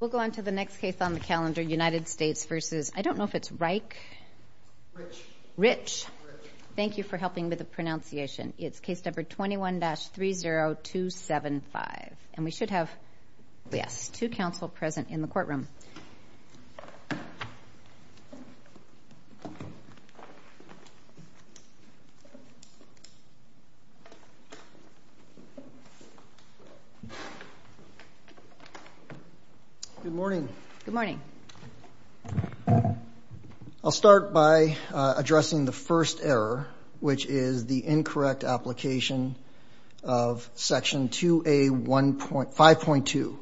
We'll go on to the next case on the calendar, United States v. I don't know if it's Reiche. Rich. Rich. Thank you for helping with the pronunciation. It's case number 21-30275. And we should have, yes, two counsel present in the courtroom. Good morning. Good morning. I'll start by addressing the first error, which is the incorrect application of Section 2A1.5.2,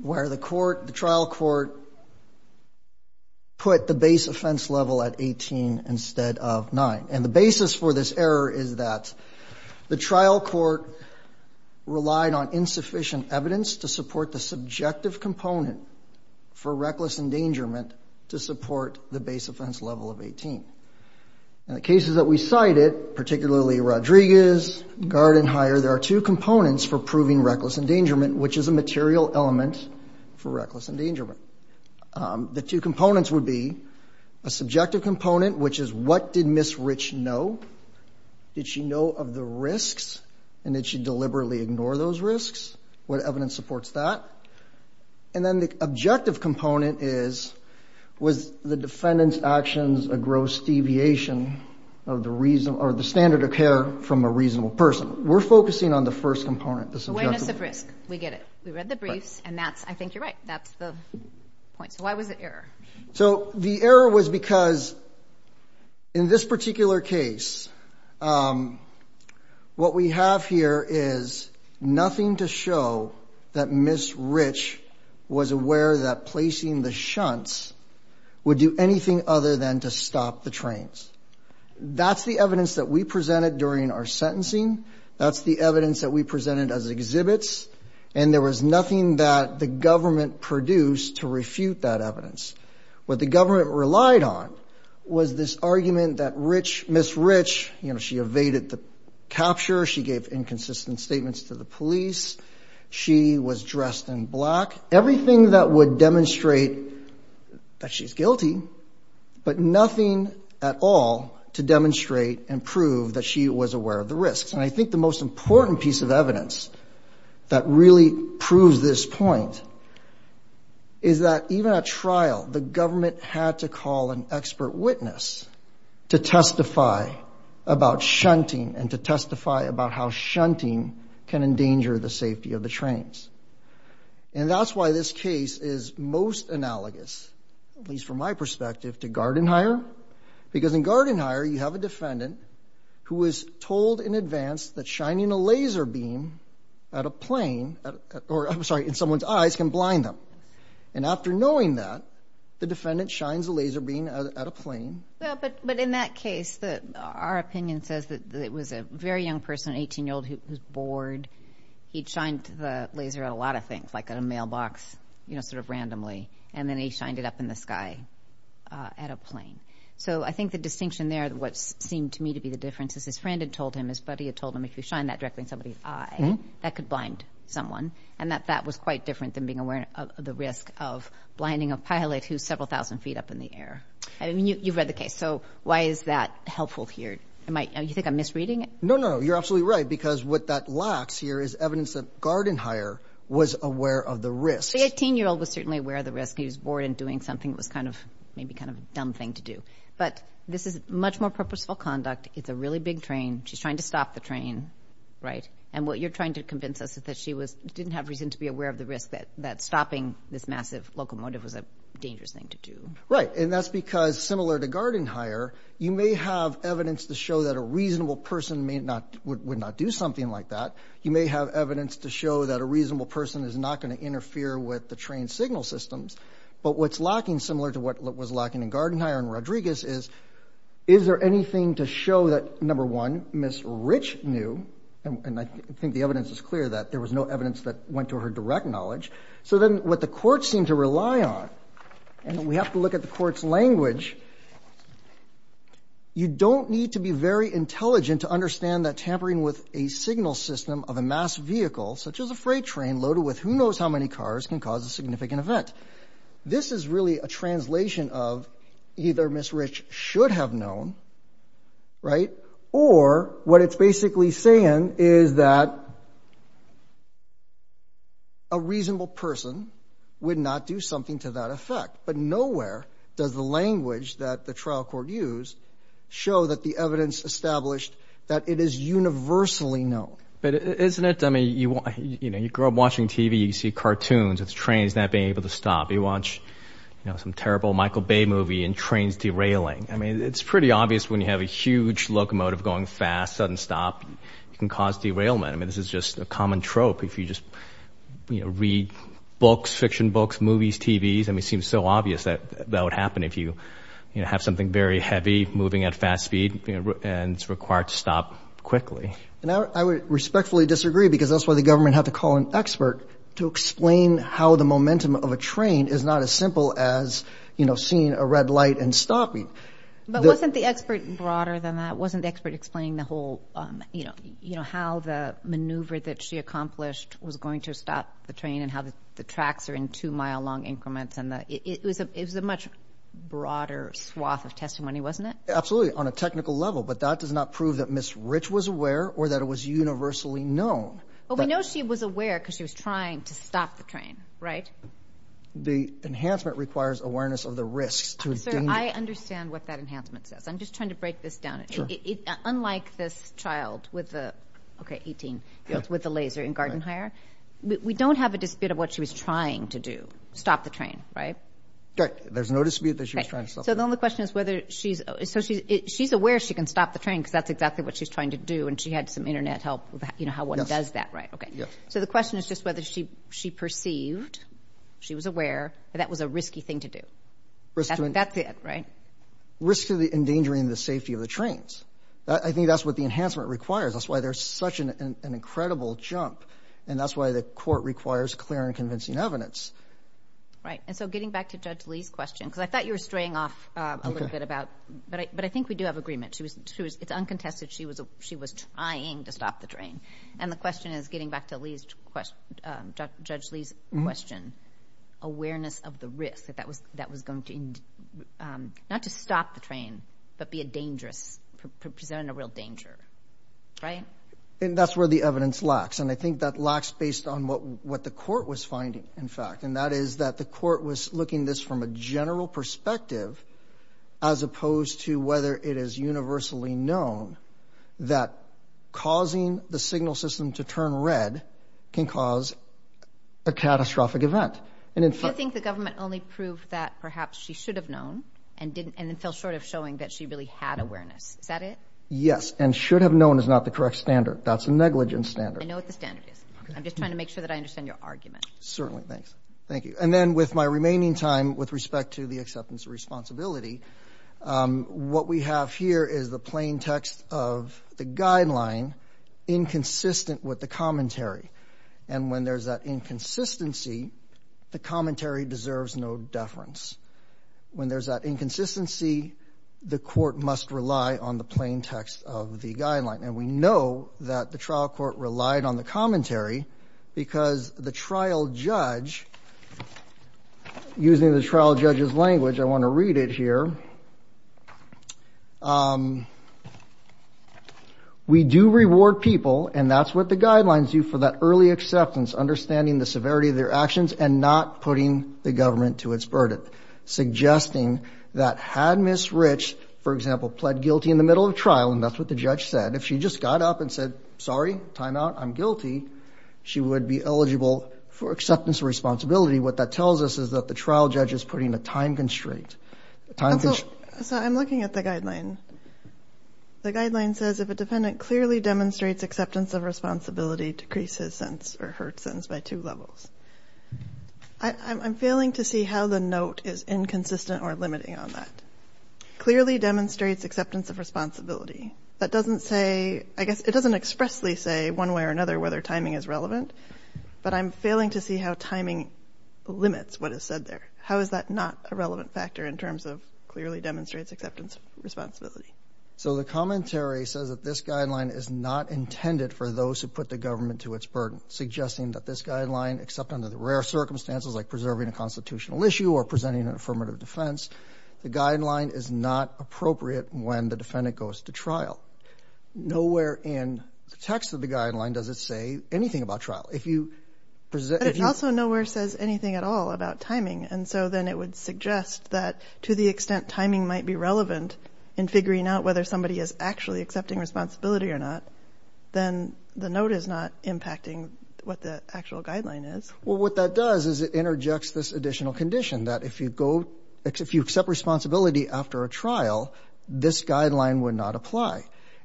where the court, the trial court put the base offense level at 18 instead of 9. And the basis for this error is that the trial court relied on insufficient evidence to support the subjective component for reckless endangerment to support the base offense level of 18. In the cases that we cited, particularly Rodriguez, Gard and Hyer, there are two components for proving reckless endangerment, which is a material element for reckless endangerment. The two components would be a subjective component, which is what did Ms. Rich know? Did she know of the risks and did she deliberately ignore those risks? What evidence supports that? And then the objective component is, was the defendant's actions a gross deviation of the reason or the standard of care from a reasonable person? We're focusing on the first component, the subjective. It's a risk. We get it. We read the briefs and that's, I think you're right. That's the point. So why was it error? So the error was because in this particular case, what we have here is nothing to show that Ms. Rich was aware that placing the shunts would do anything other than to stop the trains. That's the evidence that we presented during our sentencing. That's the evidence that we presented as exhibits. And there was nothing that the government produced to refute that evidence. What the government relied on was this argument that Rich, Ms. Rich, you know, she evaded the capture. She gave inconsistent statements to the police. She was dressed in black, everything that would demonstrate that she's guilty, but nothing at all to demonstrate and prove that she was aware of the risks. And I think the most important piece of evidence that really proves this point is that even at trial, the government had to call an expert witness to testify about shunting and to testify about how shunting can endanger the safety of the trains. And that's why this case is most analogous, at least from my perspective, to Garden Hire. Because in Garden Hire, you have a defendant who was told in advance that shining a laser beam at a plane, or I'm sorry, in someone's eyes can blind them. And after knowing that, the defendant shines a laser beam at a plane. But in that case, our opinion says that it was a very young person, an 18-year-old who was bored. He'd shined the laser at a lot of things, like at a mailbox, you know, sort of randomly. And then he shined it up in the sky at a plane. So I think the distinction there, what seemed to me to be the difference is his friend had told him, his buddy had told him, if you shine that directly in somebody's eye, that could blind someone. And that that was quite different than being aware of the risk of blinding a pilot who's several thousand feet up in the air. I mean, you've read the case. So why is that helpful here? You think I'm misreading it? No, no, no. You're absolutely right, because what that lacks here is evidence that Garden Hire was aware of the risk. The 18-year-old was certainly aware of the risk. He was bored and doing something that was kind of maybe kind of a dumb thing to do. But this is much more purposeful conduct. It's a really big train. She's trying to stop the train, right? And what you're trying to convince us is that she didn't have reason to be aware of the risk that stopping this massive locomotive was a dangerous thing to do. Right. And that's because, similar to Garden Hire, you may have evidence to show that a reasonable person would not do something like that. You may have evidence to show that a reasonable person is not going to interfere with the train signal systems. But what's lacking, similar to what was lacking in Garden Hire and Rodriguez, is, is there anything to show that, number one, Ms. Rich knew, and I think the evidence is clear that there was no evidence that went to her direct knowledge. So then what the courts seem to rely on, and we have to look at the court's language, you don't need to be very intelligent to understand that tampering with a signal system of a mass vehicle, such as a freight train loaded with who knows how many cars, can cause a significant event. This is really a translation of either Ms. Rich should have known, right, or what it's basically saying is that a reasonable person would not do something to that effect. But nowhere does the language that the trial court used show that the evidence established that it is universally known. But isn't it, I mean, you know, you grow up watching TV, you see cartoons with trains not being able to stop. You watch, you know, some terrible Michael Bay movie and trains derailing. I mean, it's pretty obvious when you have a huge locomotive going fast, sudden stop, it can cause derailment. I mean, this is just a common trope. If you just, you know, read books, fiction books, movies, TVs, I mean, it seems so obvious that that would happen if you, you know, have something very heavy moving at fast speed and it's required to stop quickly. And I would respectfully disagree because that's why the government had to call an expert to explain how the momentum of a train is not as simple as, you know, seeing a red light and stopping. But wasn't the expert broader than that? Wasn't the expert explaining the whole, you know, how the maneuver that she accomplished was going to stop the train and how the tracks are in two mile long increments? And it was a much broader swath of testimony, wasn't it? Absolutely, on a technical level. But that does not prove that Miss Rich was aware or that it was universally known. Well, we know she was aware because she was trying to stop the train, right? The enhancement requires awareness of the risks. Sir, I understand what that enhancement says. I'm just trying to break this down. Unlike this child with the, okay, 18, with the laser in Garden Hire, we don't have a dispute of what she was trying to do. Stop the train, right? There's no dispute that she was trying to stop the train. So the only question is whether she's so she's aware she can stop the train because that's exactly what she's trying to do. And she had some Internet help. You know how one does that. Right. Okay. So the question is just whether she she perceived she was aware that was a risky thing to do. That's it. Right. Risk to the endangering the safety of the trains. I think that's what the enhancement requires. That's why there's such an incredible jump. And that's why the court requires clear and convincing evidence. Right. And so getting back to Judge Lee's question, because I thought you were straying off a little bit about. But I think we do have agreement. She was. It's uncontested. She was. She was trying to stop the train. And the question is getting back to Lee's question. Judge Lee's question. Awareness of the risk that that was that was going to not to stop the train, but be a dangerous present a real danger. Right. And that's where the evidence lacks. And I think that lacks based on what what the court was finding. In fact, and that is that the court was looking this from a general perspective. As opposed to whether it is universally known that causing the signal system to turn red can cause a catastrophic event. And in fact, I think the government only proved that perhaps she should have known and didn't. And it fell short of showing that she really had awareness. Is that it? Yes. And should have known is not the correct standard. That's a negligent standard. I know what the standard is. I'm just trying to make sure that I understand your argument. Certainly. Thanks. Thank you. And then with my remaining time, with respect to the acceptance of responsibility, what we have here is the plain text of the guideline inconsistent with the commentary. And when there's that inconsistency, the commentary deserves no deference. When there's that inconsistency, the court must rely on the plain text of the guideline. And we know that the trial court relied on the commentary because the trial judge, using the trial judge's language, I want to read it here. We do reward people, and that's what the guidelines do, for that early acceptance, understanding the severity of their actions and not putting the government to its burden. And so I'm looking at the guideline. The guideline says, if a defendant clearly demonstrates acceptance of responsibility, decrease his or her sentence by two levels. I'm failing to see how the note is inconsistent or limiting on that. Clearly demonstrates acceptance of responsibility. That doesn't say, I guess it doesn't expressly say one way or another whether timing is relevant, but I'm failing to see how timing limits what is said there. How is that not a relevant factor in terms of clearly demonstrates acceptance of responsibility? So the commentary says that this guideline is not intended for those who put the government to its burden, suggesting that this guideline, except under the rare circumstances like preserving a constitutional issue or presenting an affirmative defense, the guideline is not appropriate when the defendant goes to trial. Nowhere in the text of the guideline does it say anything about trial. It also nowhere says anything at all about timing. And so then it would suggest that to the extent timing might be relevant in figuring out whether somebody is actually accepting responsibility or not, then the note is not impacting what the actual guideline is. Well, what that does is it interjects this additional condition that if you go, if you accept responsibility after a trial, this guideline would not apply.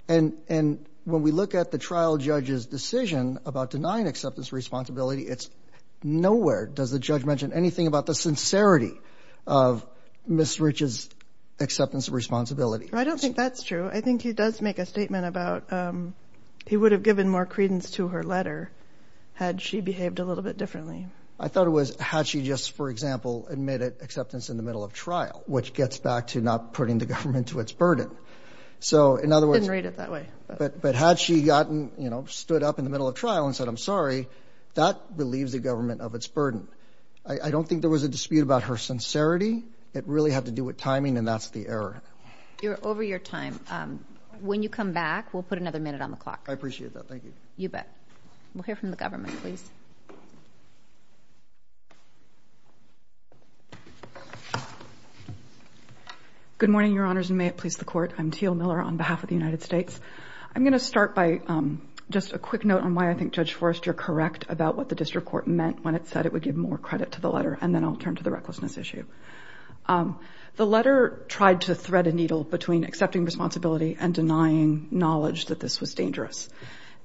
And when we look at the trial judge's decision about denying acceptance of responsibility, it's nowhere does the judge mention anything about the sincerity of Ms. Rich's acceptance of responsibility. I don't think that's true. I think he does make a statement about he would have given more credence to her letter had she behaved a little bit differently. I thought it was had she just, for example, admitted acceptance in the middle of trial, which gets back to not putting the government to its burden. So in other words, read it that way. But but had she gotten, you know, stood up in the middle of trial and said, I'm sorry, that relieves the government of its burden. I don't think there was a dispute about her sincerity. It really had to do with timing. And that's the error. You're over your time. When you come back, we'll put another minute on the clock. I appreciate that. You bet. We'll hear from the government, please. Good morning, Your Honors, and may it please the Court. I'm Teal Miller on behalf of the United States. I'm going to start by just a quick note on why I think Judge Forrest, you're correct about what the district court meant when it said it would give more credit to the letter. And then I'll turn to the recklessness issue. The letter tried to thread a needle between accepting responsibility and denying knowledge that this was dangerous.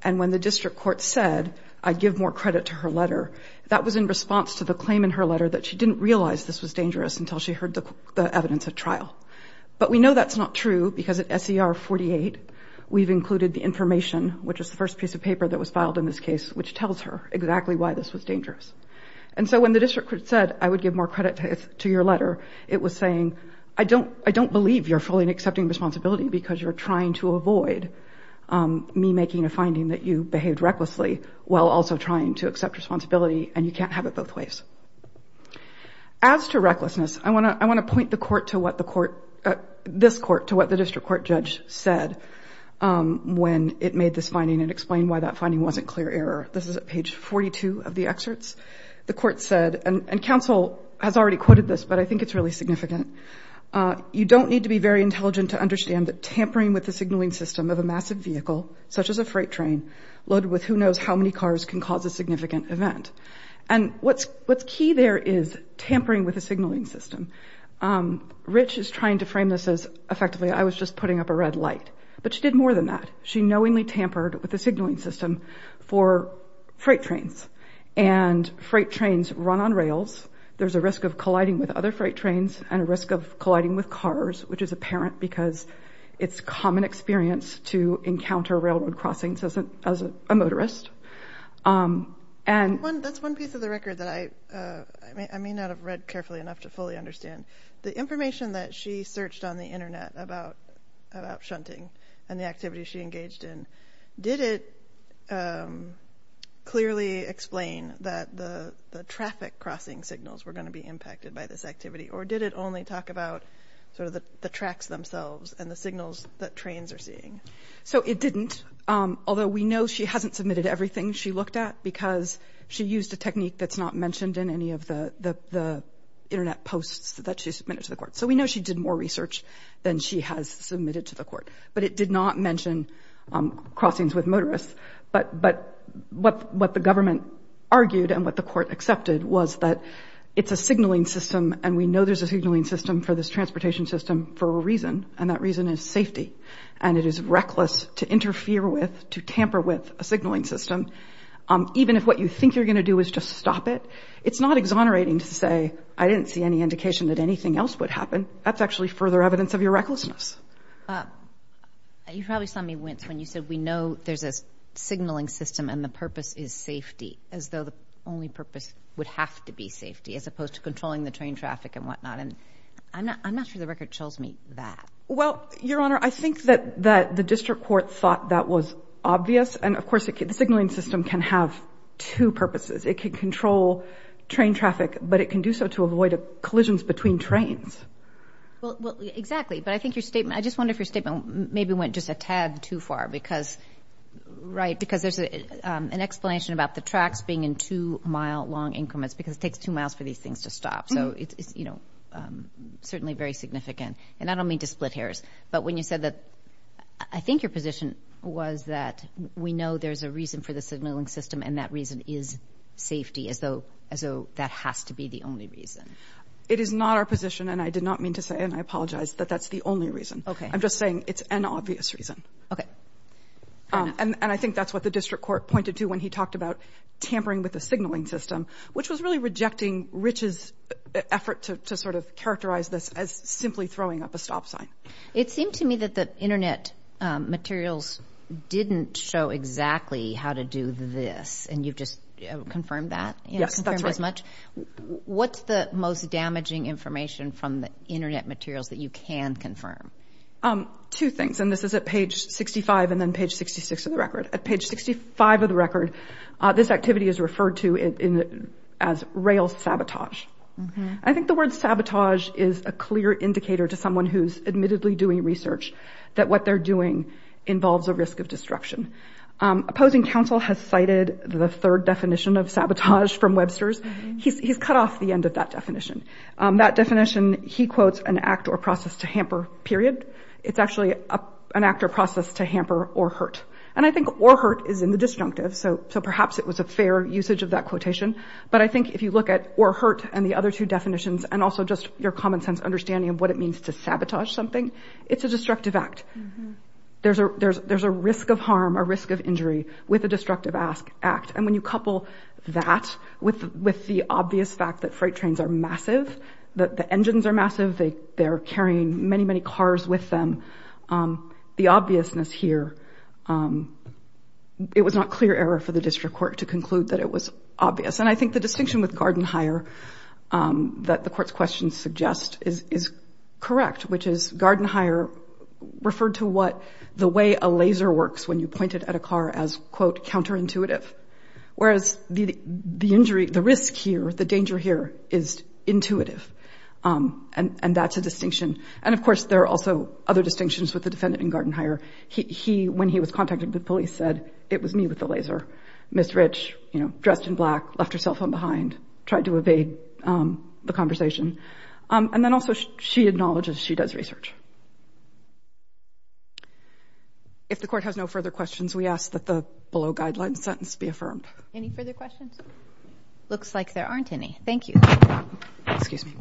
And when the district court said, I'd give more credit to her letter, that was in response to the claim in her letter that she didn't realize this was dangerous until she heard the evidence at trial. But we know that's not true because at SER 48, we've included the information, which is the first piece of paper that was filed in this case, which tells her exactly why this was dangerous. And so when the district court said, I would give more credit to your letter, it was saying, I don't believe you're fully accepting responsibility because you're trying to avoid me making a finding that you behaved recklessly while also trying to accept responsibility, and you can't have it both ways. As to recklessness, I want to point this court to what the district court judge said when it made this finding and explained why that finding wasn't clear error. This is at page 42 of the excerpts. The court said, and counsel has already quoted this, but I think it's really significant, you don't need to be very intelligent to understand that tampering with the signaling system of a massive vehicle, such as a freight train, loaded with who knows how many cars, can cause a significant event. And what's key there is tampering with the signaling system. Rich is trying to frame this as, effectively, I was just putting up a red light. But she did more than that. She knowingly tampered with the signaling system for freight trains, and freight trains run on rails. There's a risk of colliding with other freight trains and a risk of colliding with cars, which is apparent because it's common experience to encounter railroad crossings as a motorist. That's one piece of the record that I may not have read carefully enough to fully understand. The information that she searched on the Internet about shunting and the activities she engaged in, did it clearly explain that the traffic crossing signals were going to be impacted by this activity? Or did it only talk about sort of the tracks themselves and the signals that trains are seeing? So it didn't, although we know she hasn't submitted everything she looked at, because she used a technique that's not mentioned in any of the Internet posts that she submitted to the court. So we know she did more research than she has submitted to the court. But it did not mention crossings with motorists. But what the government argued and what the court accepted was that it's a signaling system, and we know there's a signaling system for this transportation system for a reason, and that reason is safety. And it is reckless to interfere with, to tamper with a signaling system, even if what you think you're going to do is just stop it. It's not exonerating to say, I didn't see any indication that anything else would happen. That's actually further evidence of your recklessness. You probably saw me wince when you said we know there's a signaling system and the purpose is safety, as though the only purpose would have to be safety, as opposed to controlling the train traffic and whatnot. And I'm not sure the record tells me that. Well, Your Honor, I think that the district court thought that was obvious. And, of course, the signaling system can have two purposes. It can control train traffic, but it can do so to avoid collisions between trains. Well, exactly. But I think your statement, I just wonder if your statement maybe went just a tad too far because, right, because there's an explanation about the tracks being in two-mile-long increments because it takes two miles for these things to stop. So it's, you know, certainly very significant. And I don't mean to split hairs. But when you said that I think your position was that we know there's a reason for the signaling system and that reason is safety, as though that has to be the only reason. It is not our position, and I did not mean to say, and I apologize, that that's the only reason. I'm just saying it's an obvious reason. Okay. And I think that's what the district court pointed to when he talked about tampering with the signaling system, which was really rejecting Rich's effort to sort of characterize this as simply throwing up a stop sign. It seemed to me that the Internet materials didn't show exactly how to do this, and you've just confirmed that. Yes, that's right. Confirmed as much. What's the most damaging information from the Internet materials that you can confirm? Two things, and this is at page 65 and then page 66 of the record. At page 65 of the record, this activity is referred to as rail sabotage. I think the word sabotage is a clear indicator to someone who's admittedly doing research that what they're doing involves a risk of disruption. Opposing counsel has cited the third definition of sabotage from Webster's. He's cut off the end of that definition. That definition, he quotes, an act or process to hamper, period. It's actually an act or process to hamper or hurt. And I think or hurt is in the disjunctive, so perhaps it was a fair usage of that quotation. But I think if you look at or hurt and the other two definitions and also just your common sense understanding of what it means to sabotage something, it's a destructive act. There's a risk of harm, a risk of injury with a destructive act. And when you couple that with the obvious fact that freight trains are massive, that the engines are massive, they're carrying many, many cars with them, the obviousness here, it was not clear error for the district court to conclude that it was obvious. And I think the distinction with guard and hire that the court's question suggests is correct, which is guard and hire referred to what the way a laser works when you point it at a car as, quote, counterintuitive, whereas the injury, the risk here, the danger here is intuitive. And that's a distinction. And, of course, there are also other distinctions with the defendant in guard and hire. When he was contacted, the police said, it was me with the laser. Ms. Rich, you know, dressed in black, left her cell phone behind, tried to evade the conversation. And then also she acknowledges she does research. If the court has no further questions, we ask that the below guideline sentence be affirmed. Any further questions? Looks like there aren't any. Thank you. Excuse me.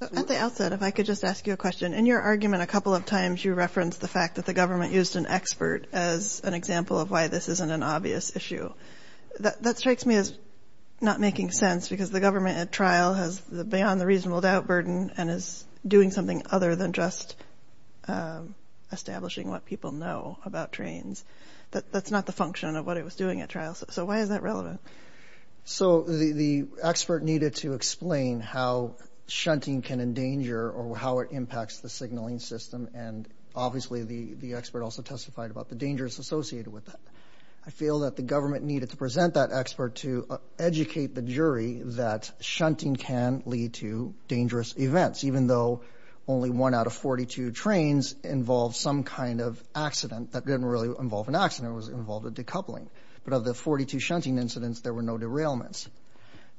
At the outset, if I could just ask you a question. In your argument a couple of times, you referenced the fact that the government used an expert as an example of why this isn't an obvious issue. That strikes me as not making sense because the government at trial has beyond the reasonable doubt burden and is doing something other than just establishing what people know about trains. That's not the function of what it was doing at trial. So why is that relevant? So the expert needed to explain how shunting can endanger or how it impacts the signaling system. And obviously the expert also testified about the dangers associated with that. I feel that the government needed to present that expert to educate the jury that shunting can lead to dangerous events, even though only one out of 42 trains involved some kind of accident. That didn't really involve an accident. It was involved a decoupling. But of the 42 shunting incidents, there were no derailments.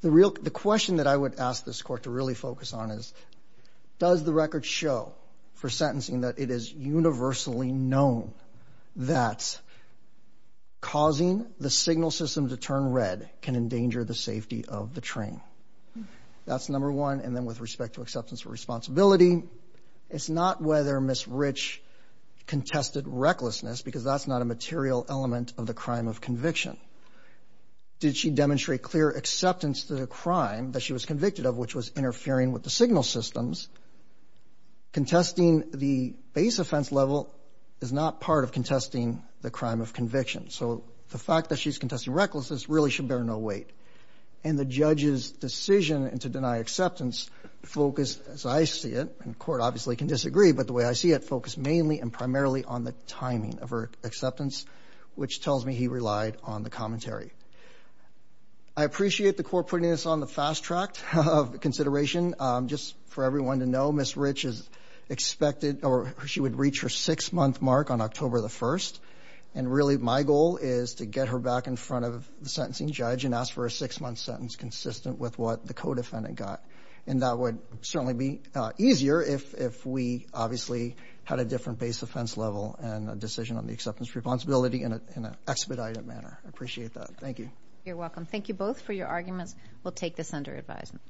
The question that I would ask this court to really focus on is, does the record show for sentencing that it is universally known that causing the signal system to turn red can endanger the safety of the train? That's number one. And then with respect to acceptance of responsibility, it's not whether Ms. Rich contested recklessness because that's not a material element of the crime of conviction. Did she demonstrate clear acceptance to the crime that she was convicted of, which was interfering with the signal systems? Contesting the base offense level is not part of contesting the crime of conviction. So the fact that she's contesting recklessness really should bear no weight. And the judge's decision to deny acceptance focused, as I see it, and the court obviously can disagree, but the way I see it, focused mainly and primarily on the timing of her acceptance, which tells me he relied on the commentary. I appreciate the court putting this on the fast track of consideration. Just for everyone to know, Ms. Rich is expected or she would reach her six-month mark on October the 1st. And really my goal is to get her back in front of the sentencing judge and ask for a six-month sentence consistent with what the co-defendant got. And that would certainly be easier if we obviously had a different base offense level and a decision on the acceptance of responsibility in an expedited manner. I appreciate that. Thank you. You're welcome. Thank you both for your arguments. We'll take this under advisement.